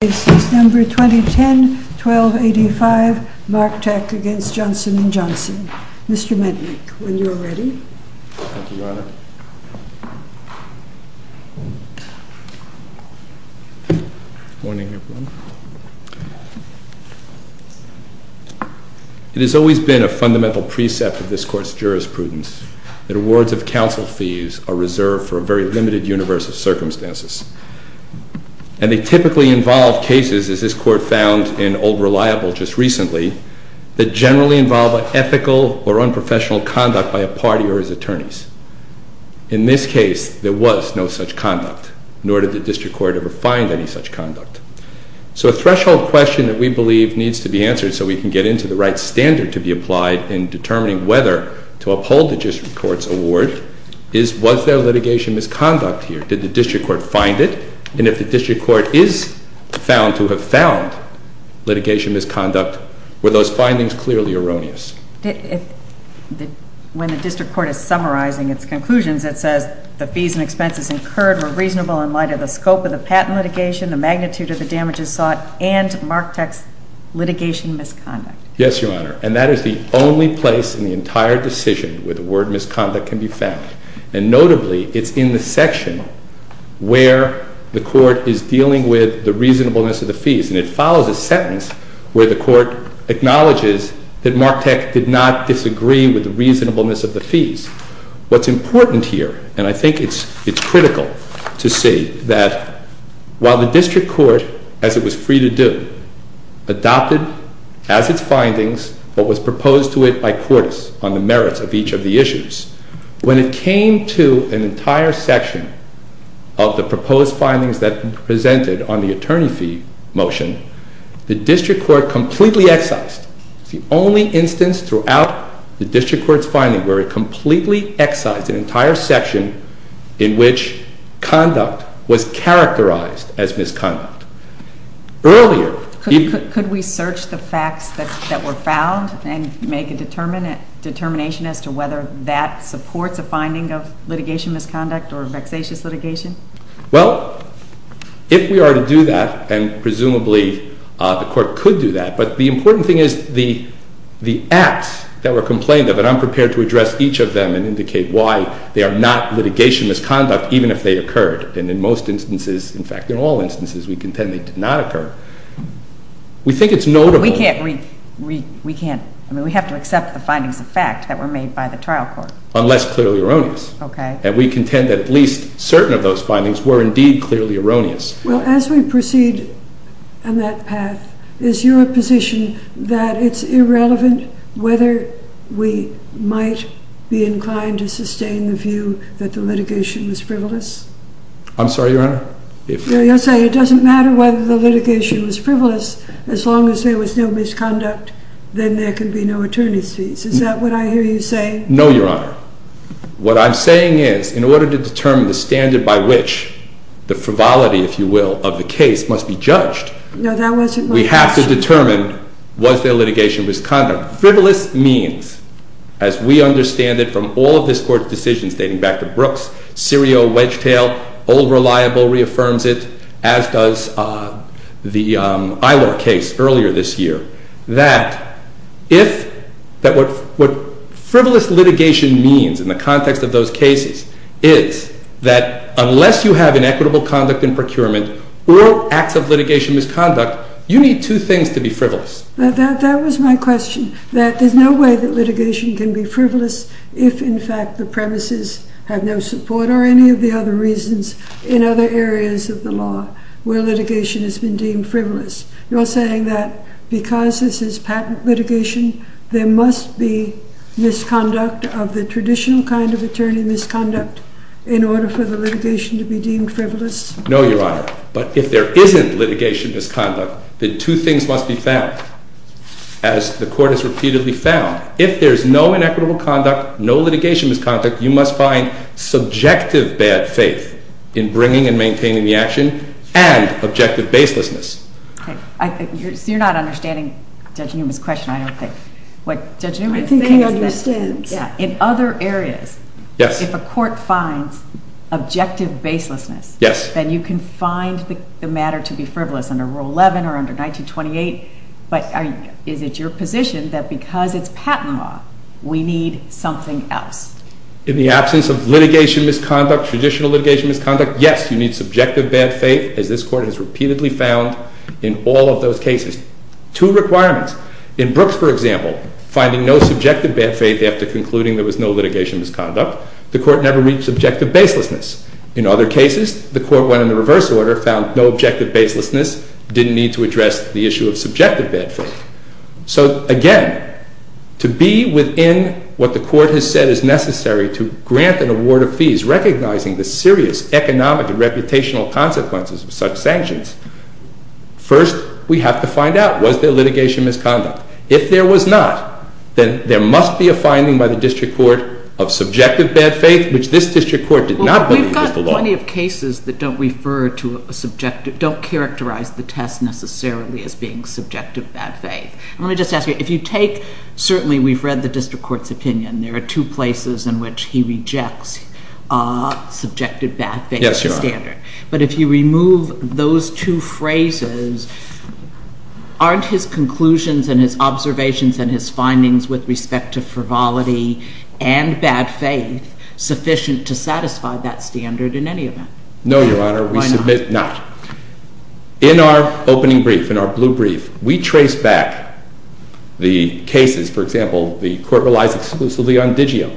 It has always been a fundamental precept of this Court's jurisprudence that awards of counsel fees are reserved for a very limited universe of circumstances. And they typically involve cases, as this Court found in Old Reliable just recently, that generally involve ethical or unprofessional conduct by a party or its attorneys. In this case, there was no such conduct, nor did the District Court ever find any such conduct. So a threshold question that we believe needs to be answered so we can get into the right standard to be applied in determining whether to uphold the District Court's award is, was there litigation misconduct here? Did the District Court find it? And if the District Court is found to have found litigation misconduct, were those findings clearly erroneous? When the District Court is summarizing its conclusions, it says the fees and expenses incurred were reasonable in light of the scope of the patent litigation, the magnitude of the damages sought, and MARCTEC's litigation misconduct. Yes, Your Honor, and that is the only place in the entire decision where the word misconduct can be found. And notably, it's in the section where the Court is dealing with the reasonableness of the fees. And it follows a sentence where the Court acknowledges that MARCTEC did not disagree with the reasonableness of the fees. What's important here, and I think it's critical to see, that while the District Court, as it was free to do, adopted as its findings what was proposed to it by courts on the merits of each of the issues, when it came to an entire section of the proposed findings that presented on the attorney fee motion, the District Court completely excised. It's the only instance throughout the District Court's finding where it completely excised an entire section in which conduct was characterized as misconduct. Earlier... Could we search the facts that were found and make a determination as to whether that supports a finding of litigation misconduct or vexatious litigation? Well, if we are to do that, and presumably the Court could do that, but the important thing is the acts that were complained of, and I'm prepared to address each of them and indicate why they are not litigation misconduct even if they occurred. And in most instances, in fact in all instances, we contend they did not occur. We think it's notable... We can't...we can't...I mean we have to accept the findings of fact that were made by the trial court. Unless clearly erroneous. Okay. And we contend that at least certain of those findings were indeed clearly erroneous. Well, as we proceed on that path, is your position that it's irrelevant whether we might be inclined to sustain the view that the litigation was frivolous? I'm sorry, Your Honor? No, you're saying it doesn't matter whether the litigation was frivolous as long as there was no misconduct, then there could be no attorney's fees. Is that what I hear you saying? No, Your Honor. What I'm saying is, in order to determine the standard by which the frivolity, if you will, of the case must be judged... No, that wasn't my question. ...we have to determine was there litigation misconduct. Frivolous means, as we understand it from all of this Court's decisions dating back to Brooks, Serio, Wedgetail, Old Reliable reaffirms it, as does the Eilor case earlier this year, that if... that what frivolous litigation means in the context of those cases is that unless you have inequitable conduct in procurement or acts of litigation misconduct, you need two things to be frivolous. That was my question, that there's no way that litigation can be frivolous if, in fact, the premises have no support or any of the other reasons in other areas of the law where litigation has been deemed frivolous. You're saying that because this is patent litigation, there must be misconduct of the traditional kind of attorney misconduct in order for the litigation to be deemed frivolous? No, Your Honor. But if there isn't litigation misconduct, then two things must be found. As the Court has repeatedly found, if there's no inequitable conduct, no litigation misconduct, you must find subjective bad faith in bringing and maintaining the action and objective baselessness. Okay. You're not understanding Judge Newman's question, I don't think. What Judge Newman is saying is that... I think he understands. Yeah. In other areas... Yes. ...if a Court finds objective baselessness... And you can find the matter to be frivolous under Rule 11 or under 1928, but is it your position that because it's patent law, we need something else? In the absence of litigation misconduct, traditional litigation misconduct, yes, you need subjective bad faith, as this Court has repeatedly found in all of those cases. Two requirements. In Brooks, for example, finding no subjective bad faith after concluding there was no litigation misconduct, the Court never reached objective baselessness. In other cases, the Court went in the reverse order, found no objective baselessness, didn't need to address the issue of subjective bad faith. So, again, to be within what the Court has said is necessary to grant an award of fees recognizing the serious economic and reputational consequences of such sanctions, first we have to find out, was there litigation misconduct? If there was not, then there must be a finding by the District Court of subjective bad faith, which this District Court did not believe was the law. Well, we've got plenty of cases that don't refer to a subjective, don't characterize the test necessarily as being subjective bad faith. Let me just ask you, if you take, certainly we've read the District Court's opinion, there are two places in which he rejects subjective bad faith as a standard. Yes, Your Honor. But if you remove those two phrases, aren't his conclusions and his observations and his findings with respect to frivolity and bad faith sufficient to satisfy that standard in any event? No, Your Honor. Why not? We submit not. In our opening brief, in our blue brief, we trace back the cases, for example, the Court relies exclusively on Digio.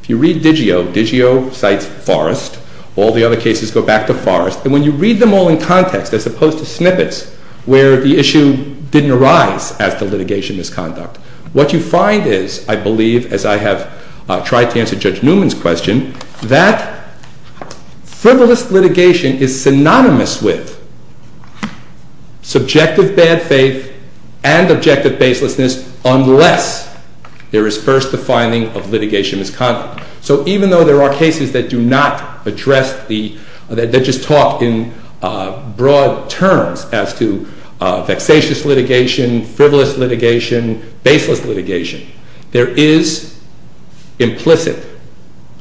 If you read Digio, Digio cites Forrest. All the other cases go back to Forrest. And when you read them all in context, as opposed to snippets, where the issue didn't arise as to litigation misconduct, what you find is, I believe, as I have tried to answer Judge Newman's question, that frivolous litigation is synonymous with subjective bad faith and objective baselessness unless there is first a finding of litigation misconduct. So even though there are cases that do not address the, that just talk in broad terms as to vexatious litigation, frivolous litigation, baseless litigation, there is implicit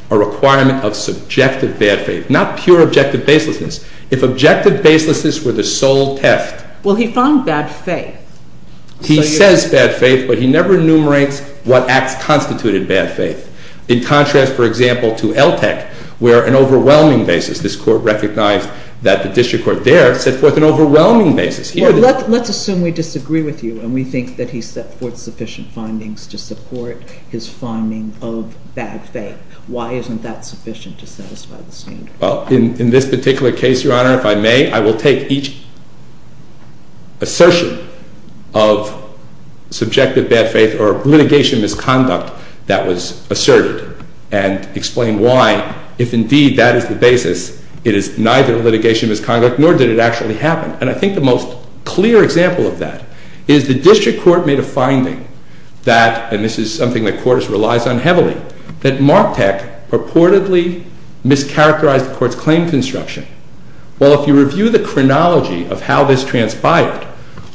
a requirement of subjective bad faith, not pure objective baselessness. If objective baselessness were the sole test. Well, he found bad faith. He says bad faith, but he never enumerates what acts constitute bad faith. In contrast, for example, to LTEC, where an overwhelming basis, this Court recognized that the district court there set forth an overwhelming basis. Well, let's assume we disagree with you and we think that he set forth sufficient findings to support his finding of bad faith. Why isn't that sufficient to satisfy the standard? Well, in this particular case, Your Honor, if I may, I will take each assertion of subjective bad faith or litigation misconduct that was asserted and explain why, if indeed that is the basis, it is neither litigation misconduct nor did it actually happen. And I think the most clear example of that is the district court made a finding that, and this is something the court relies on heavily, that MARCTEC purportedly mischaracterized the court's claim construction. Well, if you review the chronology of how this transpired,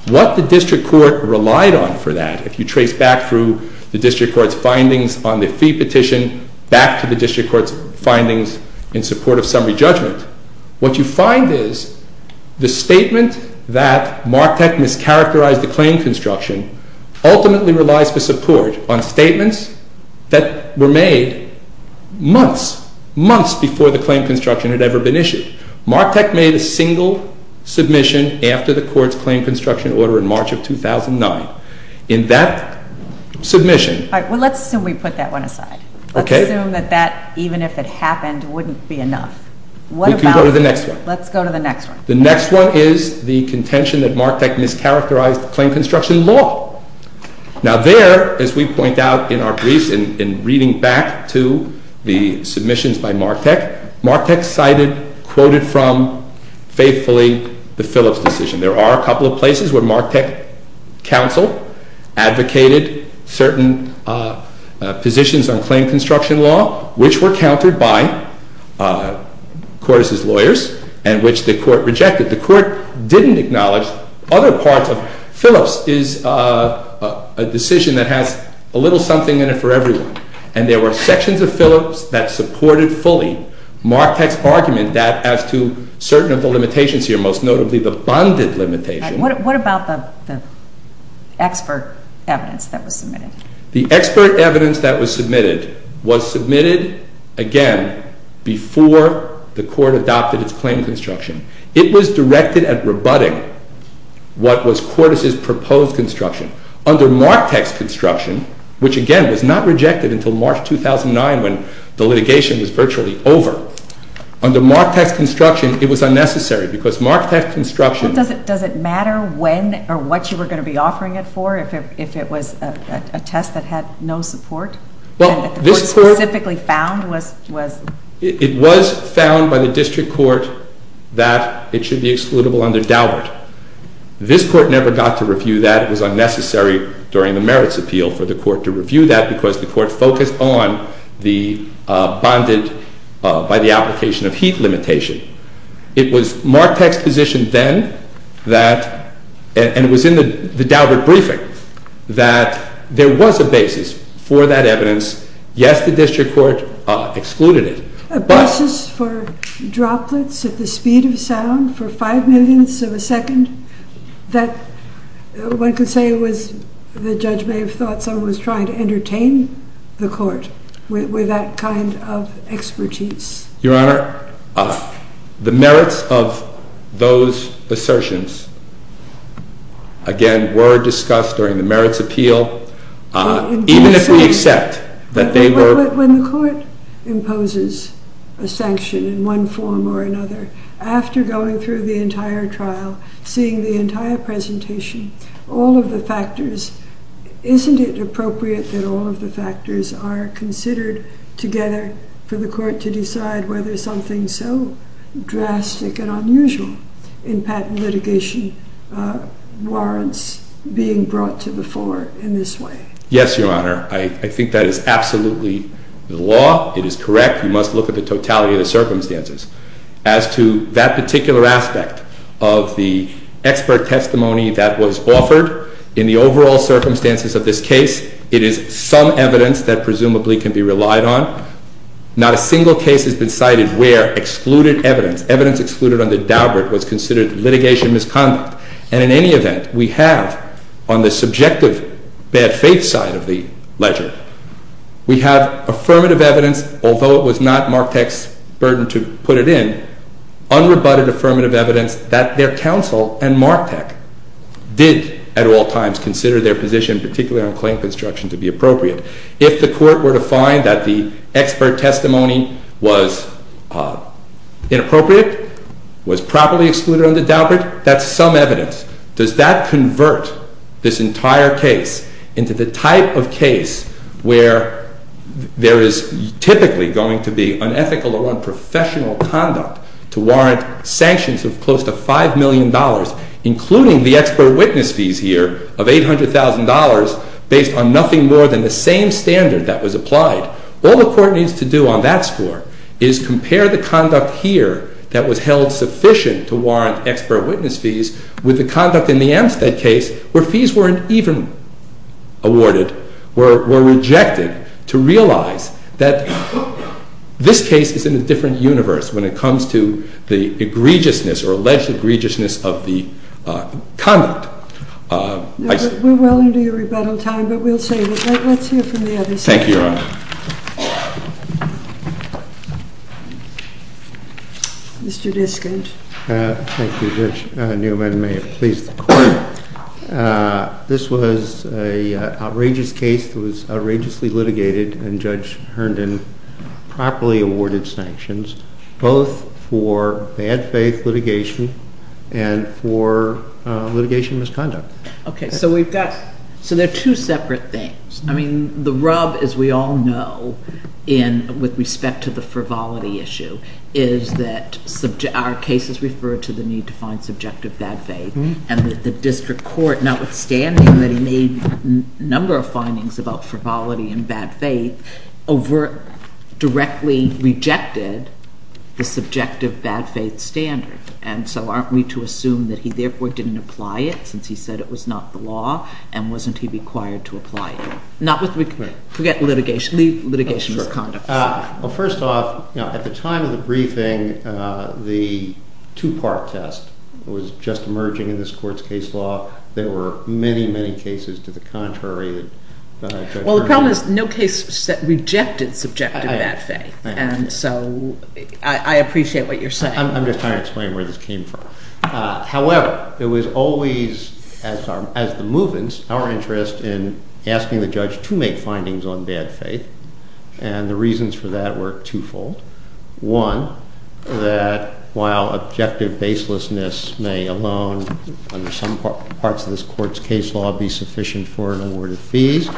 what the district court relied on for that, if you trace back through the district court's findings on the fee petition back to the district court's findings in support of summary judgment, what you find is the statement that MARCTEC mischaracterized the claim construction ultimately relies for support on statements that were made months, months before the claim construction had ever been issued. MARCTEC made a single submission after the court's claim construction order in March of 2009. In that submission- All right. Well, let's assume we put that one aside. Okay. Let's assume that that, even if it happened, wouldn't be enough. What about- We can go to the next one. Let's go to the next one. The next one is the contention that MARCTEC mischaracterized the claim construction law. Now, there, as we point out in our briefs in reading back to the submissions by MARCTEC, MARCTEC cited, quoted from faithfully, the Phillips decision. There are a couple of places where MARCTEC counsel advocated certain positions on claim construction law, which were countered by Cordes' lawyers, and which the court rejected. The court didn't acknowledge other parts of- Phillips is a decision that has a little something in it for everyone, and there were sections of Phillips that supported fully MARCTEC's argument that as to certain of the limitations here, most notably the bonded limitation- What about the expert evidence that was submitted? The expert evidence that was submitted was submitted, again, before the court adopted its claim construction. It was directed at rebutting what was Cordes' proposed construction. Under MARCTEC's construction, which again was not rejected until March 2009 when the litigation was virtually over, under MARCTEC's construction, it was unnecessary because MARCTEC's construction- Does it matter when or what you were going to be offering it for if it was a test that had no support? Well, this court- And that the court specifically found was- It was found by the district court that it should be excludable under Daubert. This court never got to review that. during the merits appeal for the court to review that because the court focused on the bonded-by the application of heat limitation. It was MARCTEC's position then that-and it was in the Daubert briefing-that there was a basis for that evidence. Yes, the district court excluded it, but- I would say it was-the judge may have thought someone was trying to entertain the court with that kind of expertise. Your Honor, the merits of those assertions, again, were discussed during the merits appeal, even if we accept that they were- Isn't it appropriate that all of the factors are considered together for the court to decide whether something so drastic and unusual in patent litigation warrants being brought to the fore in this way? Yes, Your Honor. I think that is absolutely the law. It is correct. You must look at the totality of the circumstances. As to that particular aspect of the expert testimony that was offered in the overall circumstances of this case, it is some evidence that presumably can be relied on. Not a single case has been cited where excluded evidence-evidence excluded under Daubert-was considered litigation misconduct. And in any event, we have-on the subjective bad faith side of the ledger-we have affirmative evidence, although it was not Marktech's burden to put it in, unrebutted affirmative evidence that their counsel and Marktech did at all times consider their position, particularly on claim construction, to be appropriate. If the court were to find that the expert testimony was inappropriate, was properly excluded under Daubert, that's some evidence. Does that convert this entire case into the type of case where there is typically going to be unethical or unprofessional conduct to warrant sanctions of close to $5 million, including the expert witness fees here of $800,000 based on nothing more than the same standard that was applied? All the court needs to do on that score is compare the conduct here that was held sufficient to warrant expert witness fees with the conduct in the Amstead case where fees weren't even awarded, were rejected to realize that this case is in a different universe when it comes to the egregiousness or alleged egregiousness of the conduct. We're well into your rebuttal time, but we'll save it. Let's hear from the other side. Thank you, Your Honor. Mr. Diskage. Thank you, Judge Newman. I may have pleased the court. This was an outrageous case that was outrageously litigated, and Judge Herndon properly awarded sanctions both for bad faith litigation and for litigation misconduct. Okay, so we've got – so they're two separate things. I mean, the rub, as we all know, in – with respect to the frivolity issue is that our case is referred to the need to find subjective bad faith, and that the district court, notwithstanding that he made a number of findings about frivolity and bad faith, overt – directly rejected the subjective bad faith standard. And so aren't we to assume that he therefore didn't apply it since he said it was not the law, and wasn't he required to apply it? Not with – forget litigation. Leave litigation misconduct. Well, first off, you know, at the time of the briefing, the two-part test was just emerging in this court's case law. There were many, many cases to the contrary that – Well, the problem is no case rejected subjective bad faith. And so I appreciate what you're saying. I'm just trying to explain where this came from. However, it was always, as the Movens, our interest in asking the judge to make findings on bad faith, and the reasons for that were twofold. One, that while objective baselessness may alone, under some parts of this court's case law, be sufficient for an award of fees,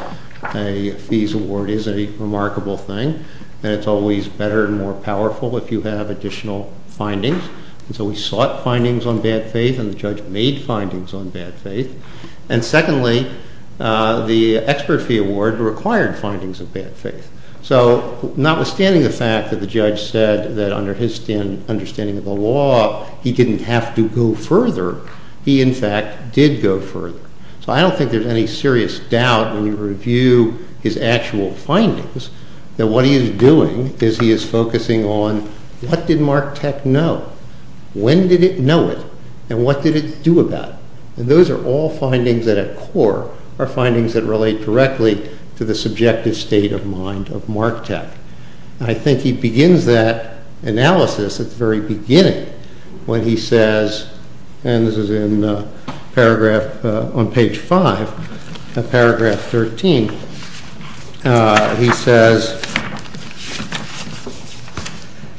a fees award is a remarkable thing, and it's always better and more powerful if you have additional findings. And so we sought findings on bad faith, and the judge made findings on bad faith. And secondly, the expert fee award required findings of bad faith. So notwithstanding the fact that the judge said that under his understanding of the law, he didn't have to go further, he in fact did go further. So I don't think there's any serious doubt when you review his actual findings that what he is doing is he is focusing on what did Mark Tech know? When did it know it, and what did it do about it? And those are all findings that at core are findings that relate directly to the subjective state of mind of Mark Tech. I think he begins that analysis at the very beginning when he says, and this is on page 5 of paragraph 13. He says,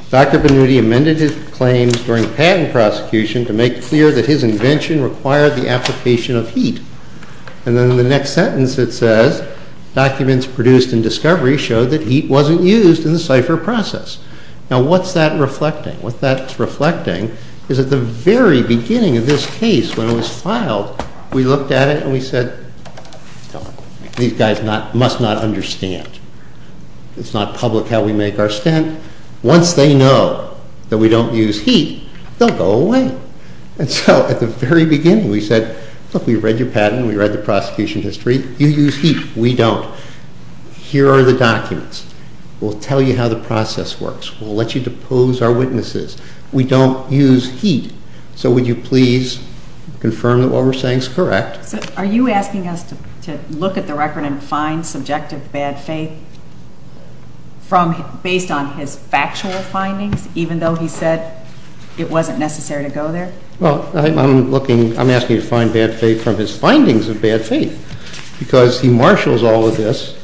Dr. Benuti amended his claims during patent prosecution to make clear that his invention required the application of heat. And then in the next sentence it says, documents produced in discovery showed that heat wasn't used in the cipher process. Now what's that reflecting? What that's reflecting is at the very beginning of this case when it was filed, we looked at it and we said, these guys must not understand. It's not public how we make our stint. Once they know that we don't use heat, they'll go away. And so at the very beginning we said, look, we read your patent, we read the prosecution history. You use heat. We don't. Here are the documents. We'll tell you how the process works. We'll let you depose our witnesses. We don't use heat. So would you please confirm that what we're saying is correct. Are you asking us to look at the record and find subjective bad faith based on his factual findings, even though he said it wasn't necessary to go there? Well, I'm asking you to find bad faith from his findings of bad faith because he marshals all of this.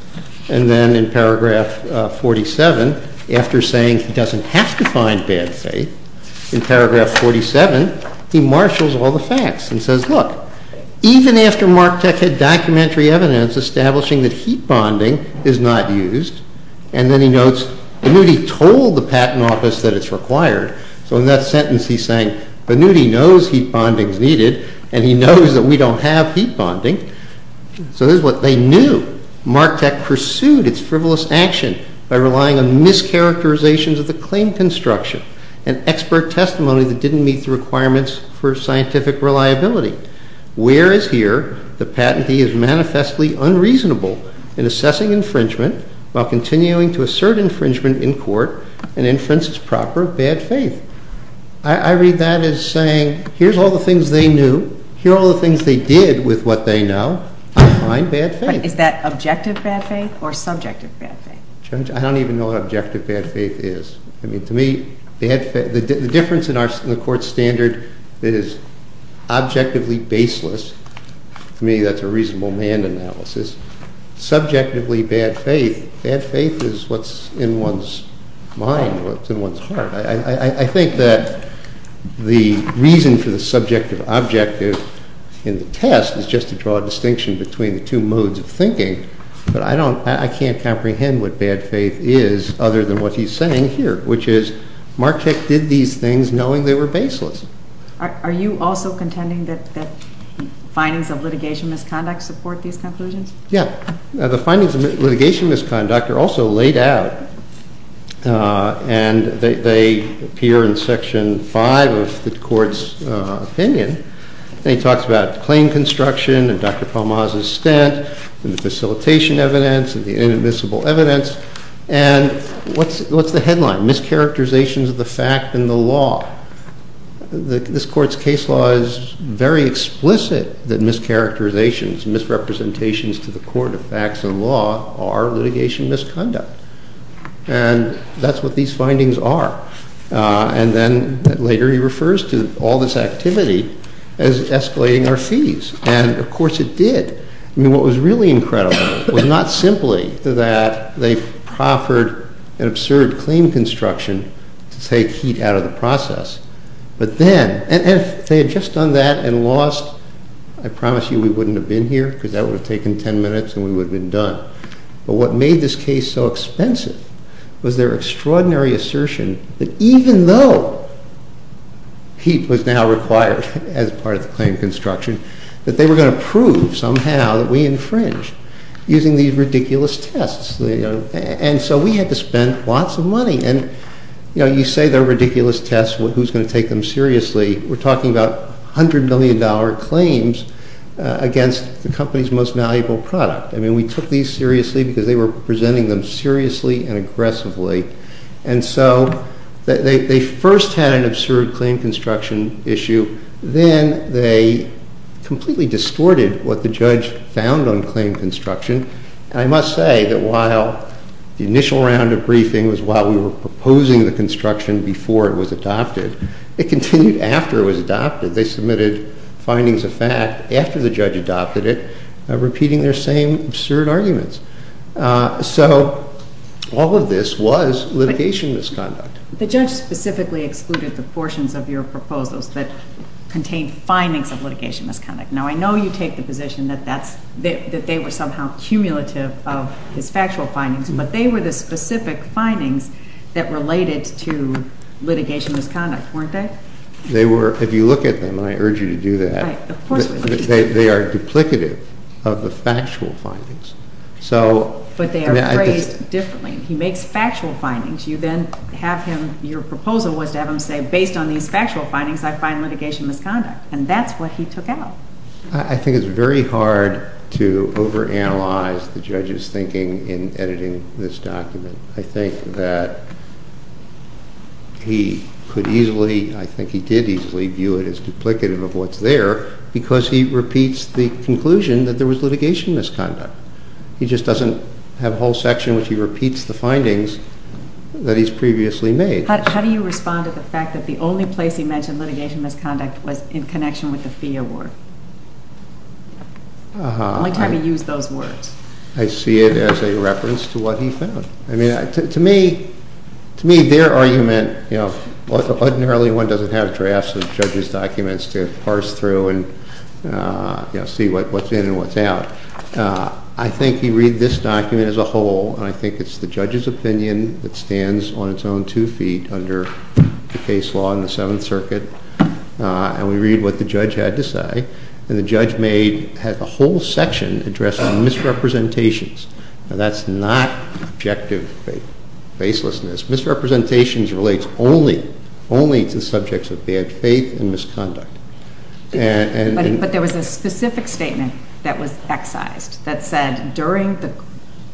And then in paragraph 47, after saying he doesn't have to find bad faith, in paragraph 47 he marshals all the facts and says, look, even after Marktech had documentary evidence establishing that heat bonding is not used, and then he notes, Banuti told the patent office that it's required. So in that sentence he's saying Banuti knows heat bonding is needed and he knows that we don't have heat bonding. So this is what they knew. Marktech pursued its frivolous action by relying on mischaracterizations of the claim construction and expert testimony that didn't meet the requirements for scientific reliability. Whereas here, the patentee is manifestly unreasonable in assessing infringement while continuing to assert infringement in court and inferences proper bad faith. I read that as saying, here's all the things they knew. Here are all the things they did with what they know. Find bad faith. But is that objective bad faith or subjective bad faith? Judge, I don't even know what objective bad faith is. I mean, to me, the difference in the court standard is objectively baseless. To me, that's a reasonable manned analysis. Subjectively bad faith, bad faith is what's in one's mind, what's in one's heart. I think that the reason for the subjective objective in the test is just to draw a distinction between the two modes of thinking. But I can't comprehend what bad faith is other than what he's saying here, which is Marktech did these things knowing they were baseless. Are you also contending that findings of litigation misconduct support these conclusions? Yeah. The findings of litigation misconduct are also laid out, and they appear in Section 5 of the court's opinion. And he talks about claim construction, and Dr. Palmaz's stint, and the facilitation evidence, and the inadmissible evidence. And what's the headline? Mischaracterizations of the fact in the law. This court's case law is very explicit that mischaracterizations, misrepresentations to the court of facts and law are litigation misconduct. And that's what these findings are. And then later he refers to all this activity as escalating our fees. And, of course, it did. I mean, what was really incredible was not simply that they proffered an absurd claim construction to take heat out of the process. But then, and if they had just done that and lost, I promise you we wouldn't have been here because that would have taken 10 minutes and we would have been done. But what made this case so expensive was their extraordinary assertion that even though heat was now required as part of the claim construction, that they were going to prove somehow that we infringed using these ridiculous tests. And so we had to spend lots of money. And, you know, you say they're ridiculous tests. Who's going to take them seriously? We're talking about $100 million claims against the company's most valuable product. I mean, we took these seriously because they were presenting them seriously and aggressively. And so they first had an absurd claim construction issue. Then they completely distorted what the judge found on claim construction. And I must say that while the initial round of briefing was while we were proposing the construction before it was adopted, it continued after it was adopted. They submitted findings of fact after the judge adopted it, repeating their same absurd arguments. So all of this was litigation misconduct. The judge specifically excluded the portions of your proposals that contained findings of litigation misconduct. Now, I know you take the position that they were somehow cumulative of his factual findings, but they were the specific findings that related to litigation misconduct, weren't they? If you look at them, and I urge you to do that, they are duplicative of the factual findings. But they are phrased differently. He makes factual findings. Your proposal was to have him say, based on these factual findings, I find litigation misconduct. And that's what he took out. I think it's very hard to overanalyze the judge's thinking in editing this document. I think that he could easily, I think he did easily view it as duplicative of what's there, because he repeats the conclusion that there was litigation misconduct. He just doesn't have a whole section in which he repeats the findings that he's previously made. How do you respond to the fact that the only place he mentioned litigation misconduct was in connection with the fee award? Uh-huh. The only time he used those words. I see it as a reference to what he found. I mean, to me, to me, their argument, you know, ordinarily one doesn't have drafts of judges' documents to parse through and, you know, see what's in and what's out. I think he read this document as a whole, and I think it's the judge's opinion that stands on its own two feet under the case law in the Seventh Circuit. And we read what the judge had to say, and the judge made a whole section addressing misrepresentations. Now, that's not objective facelessness. Misrepresentations relates only, only to subjects of bad faith and misconduct. But there was a specific statement that was excised that said during the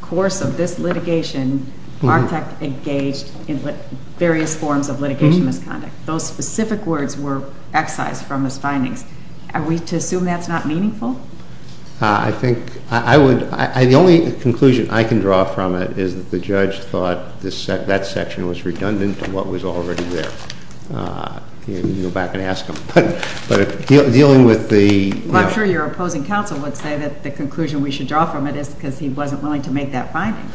course of this litigation, Bartek engaged in various forms of litigation misconduct. Those specific words were excised from his findings. Are we to assume that's not meaningful? I think I would, the only conclusion I can draw from it is that the judge thought that section was redundant to what was already there. You go back and ask him. But dealing with the, you know. Well, I'm sure your opposing counsel would say that the conclusion we should draw from it is because he wasn't willing to make that finding.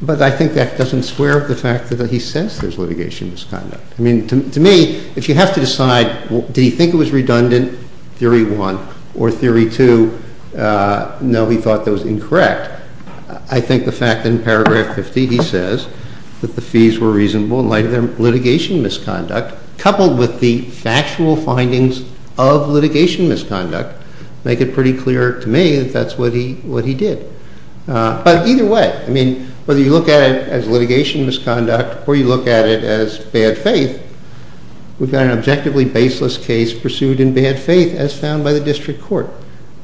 But I think that doesn't square with the fact that he says there's litigation misconduct. I mean, to me, if you have to decide, did he think it was redundant, theory one, or theory two, no, he thought that was incorrect. I think the fact that in paragraph 50 he says that the fees were reasonable in light of their litigation misconduct, coupled with the factual findings of litigation misconduct, make it pretty clear to me that that's what he did. But either way, I mean, whether you look at it as litigation misconduct or you look at it as bad faith, we've got an objectively baseless case pursued in bad faith as found by the district court.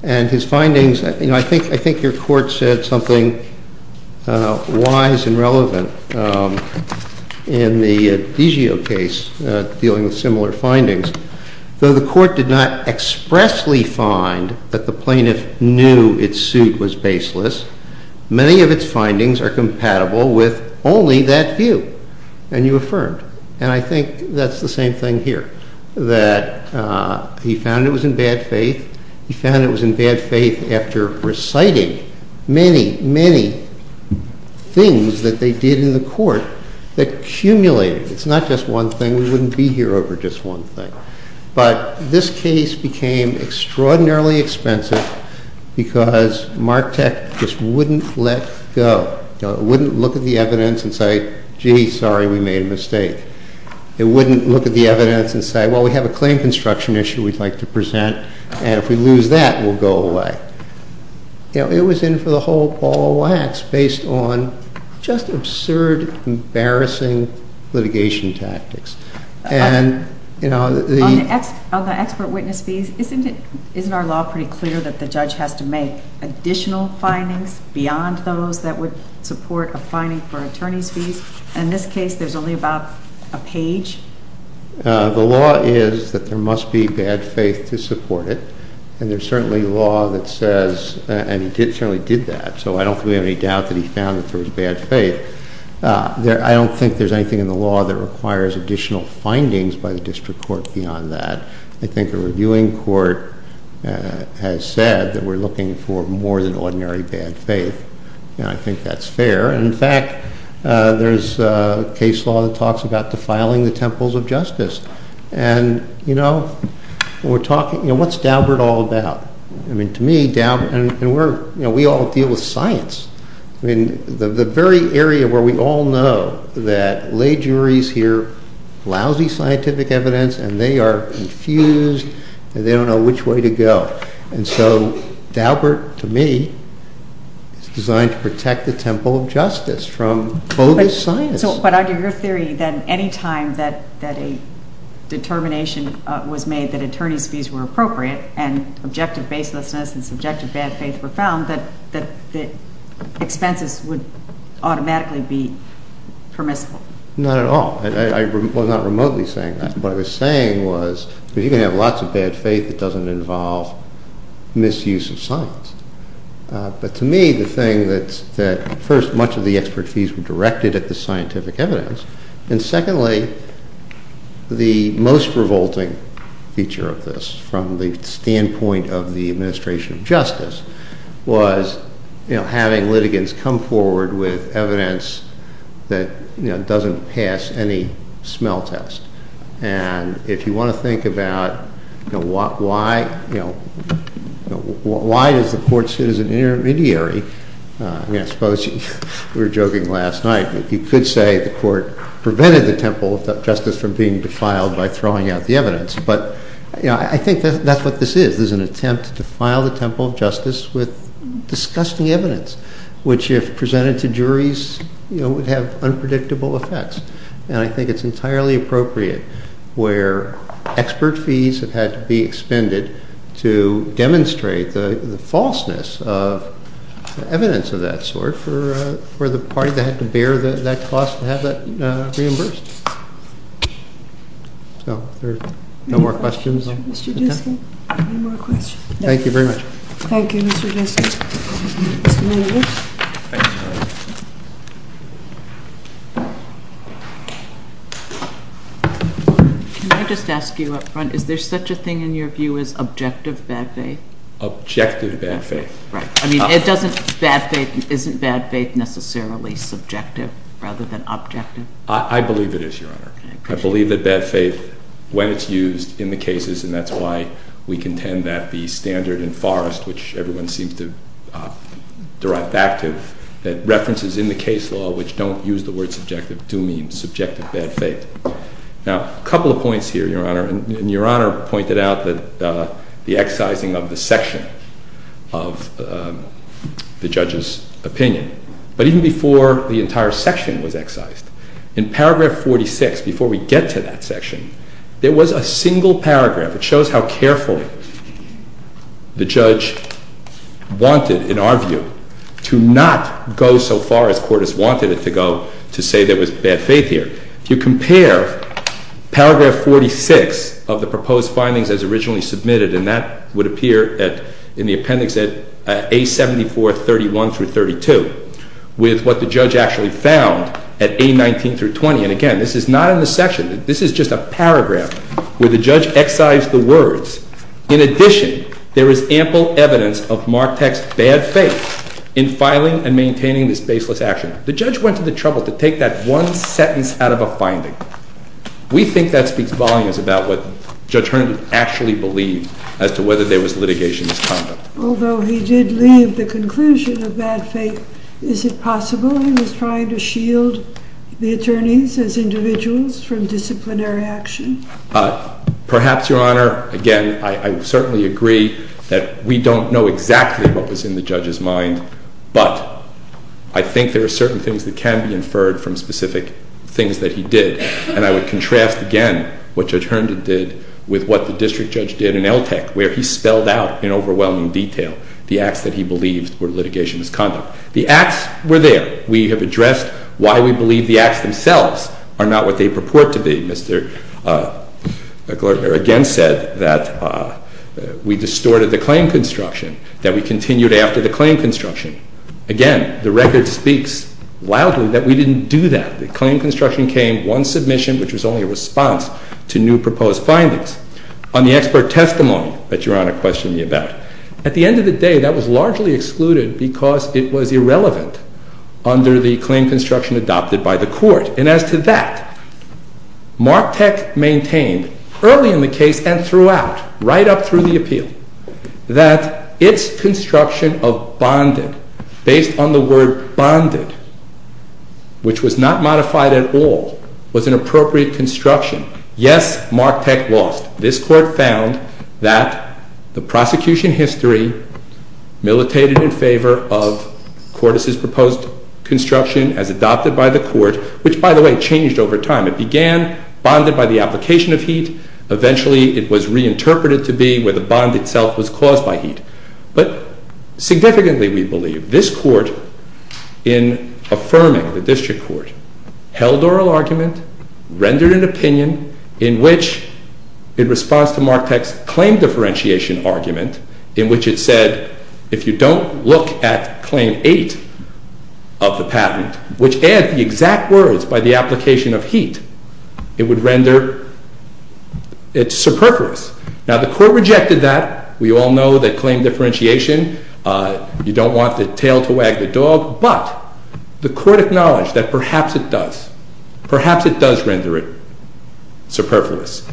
And his findings, you know, I think your court said something wise and relevant in the DiGio case dealing with similar findings. Though the court did not expressly find that the plaintiff knew its suit was baseless, many of its findings are compatible with only that view. And you affirmed. And I think that's the same thing here, that he found it was in bad faith. He found it was in bad faith after reciting many, many things that they did in the court that accumulated. It's not just one thing. We wouldn't be here over just one thing. But this case became extraordinarily expensive because Martek just wouldn't let go. It wouldn't look at the evidence and say, gee, sorry, we made a mistake. It wouldn't look at the evidence and say, well, we have a claim construction issue we'd like to present. And if we lose that, we'll go away. It was in for the whole ball of wax based on just absurd, embarrassing litigation tactics. On the expert witness fees, isn't our law pretty clear that the judge has to make additional findings beyond those that would support a finding for attorney's fees? In this case, there's only about a page. The law is that there must be bad faith to support it. And there's certainly law that says, and he certainly did that. So I don't think we have any doubt that he found that there was bad faith. I don't think there's anything in the law that requires additional findings by the district court beyond that. I think a reviewing court has said that we're looking for more than ordinary bad faith. And I think that's fair. In fact, there's a case law that talks about defiling the temples of justice. And we're talking, what's Daubert all about? I mean, to me, we all deal with science. I mean, the very area where we all know that lay juries hear lousy scientific evidence and they are confused and they don't know which way to go. And so Daubert, to me, is designed to protect the temple of justice from bogus science. But under your theory, then, any time that a determination was made that attorney's fees were appropriate and objective baselessness and subjective bad faith were found, that expenses would automatically be permissible. Not at all. I'm not remotely saying that. What I was saying was if you can have lots of bad faith, it doesn't involve misuse of science. But to me, the thing that first, much of the expertise were directed at the scientific evidence. And secondly, the most revolting feature of this from the standpoint of the administration of justice was having litigants come forward with evidence that doesn't pass any smell test. And if you want to think about why does the court sit as an intermediary? I mean, I suppose we were joking last night. You could say the court prevented the temple of justice from being defiled by throwing out the evidence. But I think that's what this is. This is an attempt to defile the temple of justice with disgusting evidence, which if presented to juries would have unpredictable effects. And I think it's entirely appropriate where expert fees have had to be expended to demonstrate the falseness of evidence of that sort for the party that had to bear that cost to have that reimbursed. So, are there no more questions? Mr. Diskin, any more questions? Thank you very much. Thank you, Mr. Diskin. Mr. Miller. Thank you. Can I just ask you up front, is there such a thing in your view as objective bad faith? Objective bad faith. Right. I mean, isn't bad faith necessarily subjective rather than objective? I believe it is, Your Honor. I believe that bad faith, when it's used in the cases, and that's why we contend that the standard in Forrest, which everyone seems to derive back to, that references in the case law which don't use the word subjective do mean subjective bad faith. Now, a couple of points here, Your Honor, and Your Honor pointed out the excising of the section of the judge's opinion. But even before the entire section was excised, in paragraph 46, before we get to that section, there was a single paragraph that shows how carefully the judge wanted, in our view, to not go so far as court has wanted it to go to say there was bad faith here. If you compare paragraph 46 of the proposed findings as originally submitted, and that would appear in the appendix at A7431 through 32, with what the judge actually found at A19 through 20. And again, this is not in the section. This is just a paragraph where the judge excised the words. In addition, there is ample evidence of Mark Tech's bad faith in filing and maintaining this baseless action. The judge went to the trouble to take that one sentence out of a finding. We think that speaks volumes about what Judge Herndon actually believed as to whether there was litigation in this conduct. Although he did leave the conclusion of bad faith, is it possible he was trying to shield the attorneys as individuals from disciplinary action? Perhaps, Your Honor. Again, I certainly agree that we don't know exactly what was in the judge's mind. But I think there are certain things that can be inferred from specific things that he did. And I would contrast again what Judge Herndon did with what the district judge did in LTCH, where he spelled out in overwhelming detail the acts that he believed were litigation in this conduct. The acts were there. We have addressed why we believe the acts themselves are not what they purport to be. Mr. Glertner again said that we distorted the claim construction, that we continued after the claim construction. Again, the record speaks loudly that we didn't do that. The claim construction came, one submission, which was only a response to new proposed findings. On the expert testimony that Your Honor questioned me about, at the end of the day, that was largely excluded because it was irrelevant under the claim construction adopted by the Court. And as to that, Marktech maintained early in the case and throughout, right up through the appeal, that its construction of bonded, based on the word bonded, which was not modified at all, was an appropriate construction. Yes, Marktech lost. This Court found that the prosecution history militated in favor of Cordes' proposed construction as adopted by the Court, which, by the way, changed over time. It began bonded by the application of heat. Eventually, it was reinterpreted to be where the bond itself was caused by heat. But significantly, we believe, this Court, in affirming the district court, held oral argument, rendered an opinion, in which, in response to Marktech's claim differentiation argument, in which it said, if you don't look at Claim 8 of the patent, which adds the exact words by the application of heat, it would render it superfluous. Now, the Court rejected that. We all know that claim differentiation, you don't want the tail to wag the dog. But the Court acknowledged that perhaps it does. Perhaps it does render it superfluous.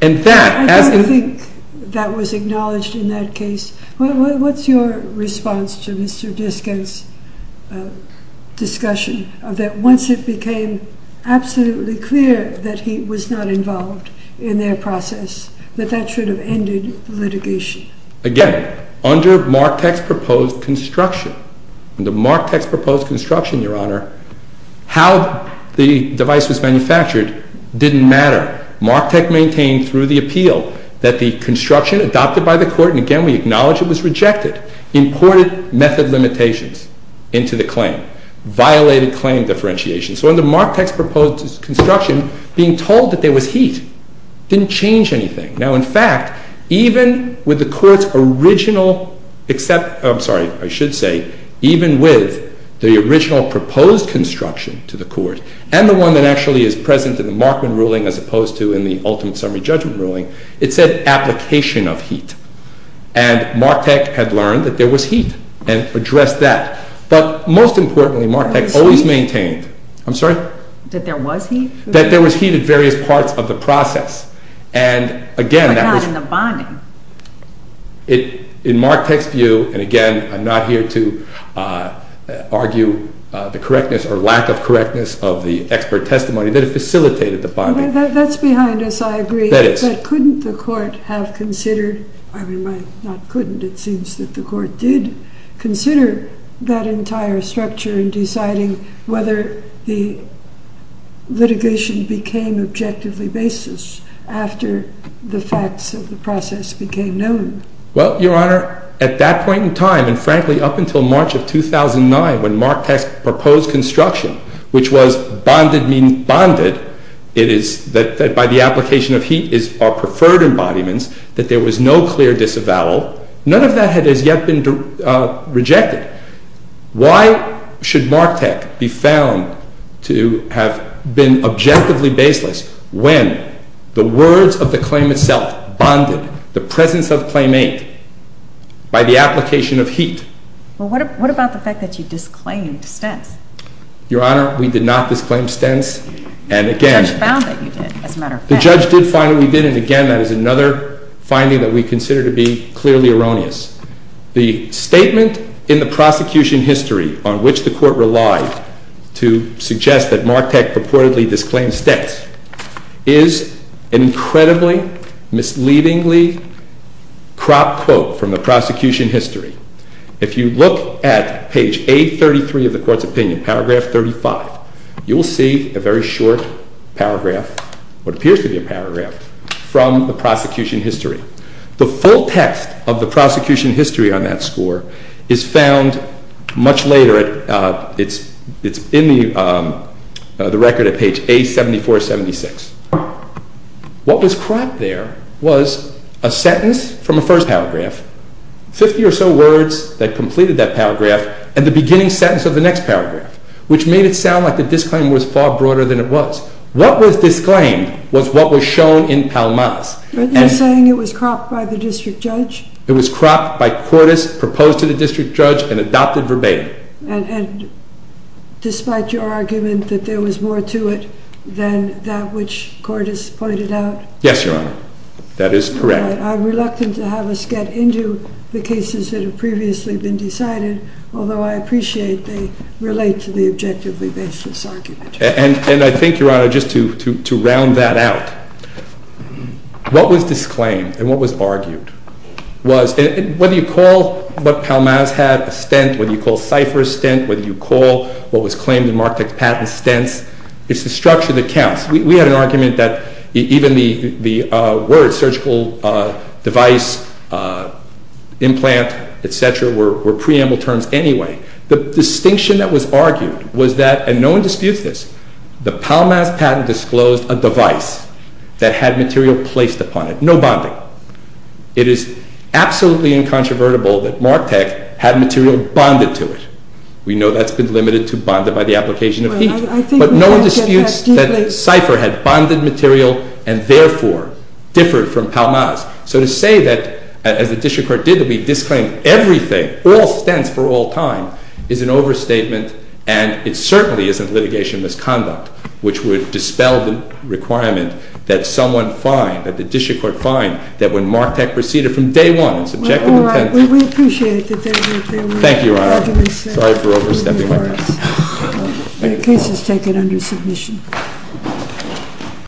I don't think that was acknowledged in that case. What's your response to Mr. Diskett's discussion of that, once it became absolutely clear that heat was not involved in their process, that that should have ended the litigation? Again, under Marktech's proposed construction, under Marktech's proposed construction, Your Honor, how the device was manufactured didn't matter. Marktech maintained through the appeal that the construction adopted by the Court, and again, we acknowledge it was rejected, imported method limitations into the claim, violated claim differentiation. So under Marktech's proposed construction, being told that there was heat didn't change anything. Now, in fact, even with the Court's original, except, I'm sorry, I should say, even with the original proposed construction to the Court, and the one that actually is present in the Markman ruling as opposed to in the ultimate summary judgment ruling, it said application of heat. And Marktech had learned that there was heat, and addressed that. But most importantly, Marktech always maintained, I'm sorry? That there was heat? That there was heat at various parts of the process. But not in the bonding? In Marktech's view, and again, I'm not here to argue the correctness or lack of correctness of the expert testimony, that it facilitated the bonding. That's behind us, I agree. That is. But couldn't the Court have considered, I mean, not couldn't, it seems that the Court did consider that entire structure in deciding whether the litigation became objectively basis after the facts of the process became known? Well, Your Honor, at that point in time, and frankly, up until March of 2009, when Marktech's proposed construction, which was bonded, it is that by the application of heat is our preferred embodiments, that there was no clear disavowal. None of that has yet been rejected. Why should Marktech be found to have been objectively baseless when the words of the claim itself, bonded, the presence of claimant, by the application of heat? Well, what about the fact that you disclaimed Stentz? Your Honor, we did not disclaim Stentz. The judge found that you did, as a matter of fact. The judge did find that we did, and again, that is another finding that we consider to be clearly erroneous. The statement in the prosecution history on which the Court relied to suggest that Marktech purportedly disclaimed Stentz is an incredibly misleadingly cropped quote from the prosecution history. If you look at page 833 of the Court's opinion, paragraph 35, you will see a very short paragraph, what appears to be a paragraph, from the prosecution history. The full text of the prosecution history on that score is found much later. It's in the record at page A7476. What was cropped there was a sentence from the first paragraph, 50 or so words that completed that paragraph, and the beginning sentence of the next paragraph, which made it sound like the disclaim was far broader than it was. What was disclaimed was what was shown in Palmas. You're saying it was cropped by the district judge? It was cropped by Cordes, proposed to the district judge, and adopted verbatim. And despite your argument that there was more to it than that which Cordes pointed out? Yes, Your Honor. That is correct. I'm reluctant to have us get into the cases that have previously been decided, although I appreciate they relate to the objectively baseless argument. And I think, Your Honor, just to round that out, what was disclaimed and what was argued was, whether you call what Palmas had a stent, whether you call Cipher a stent, whether you call what was claimed in Martec's patent stents, it's the structure that counts. We had an argument that even the words, surgical device, implant, et cetera, were preamble terms anyway. The distinction that was argued was that, and no one disputes this, the Palmas patent disclosed a device that had material placed upon it. No bonding. It is absolutely incontrovertible that Martec had material bonded to it. We know that's been limited to bonded by the application of heat. But no one disputes that Cipher had bonded material and therefore differed from Palmas. So to say that, as the district court did, that we disclaimed everything, all stents for all time, is an overstatement, and it certainly isn't litigation misconduct, which would dispel the requirement that someone find, that the district court find, that when Martec proceeded from day one, it's objective and tentative. All right. Well, we appreciate that there were arguments. Thank you, Your Honor. Sorry for overstepping my time. The case is taken under submission.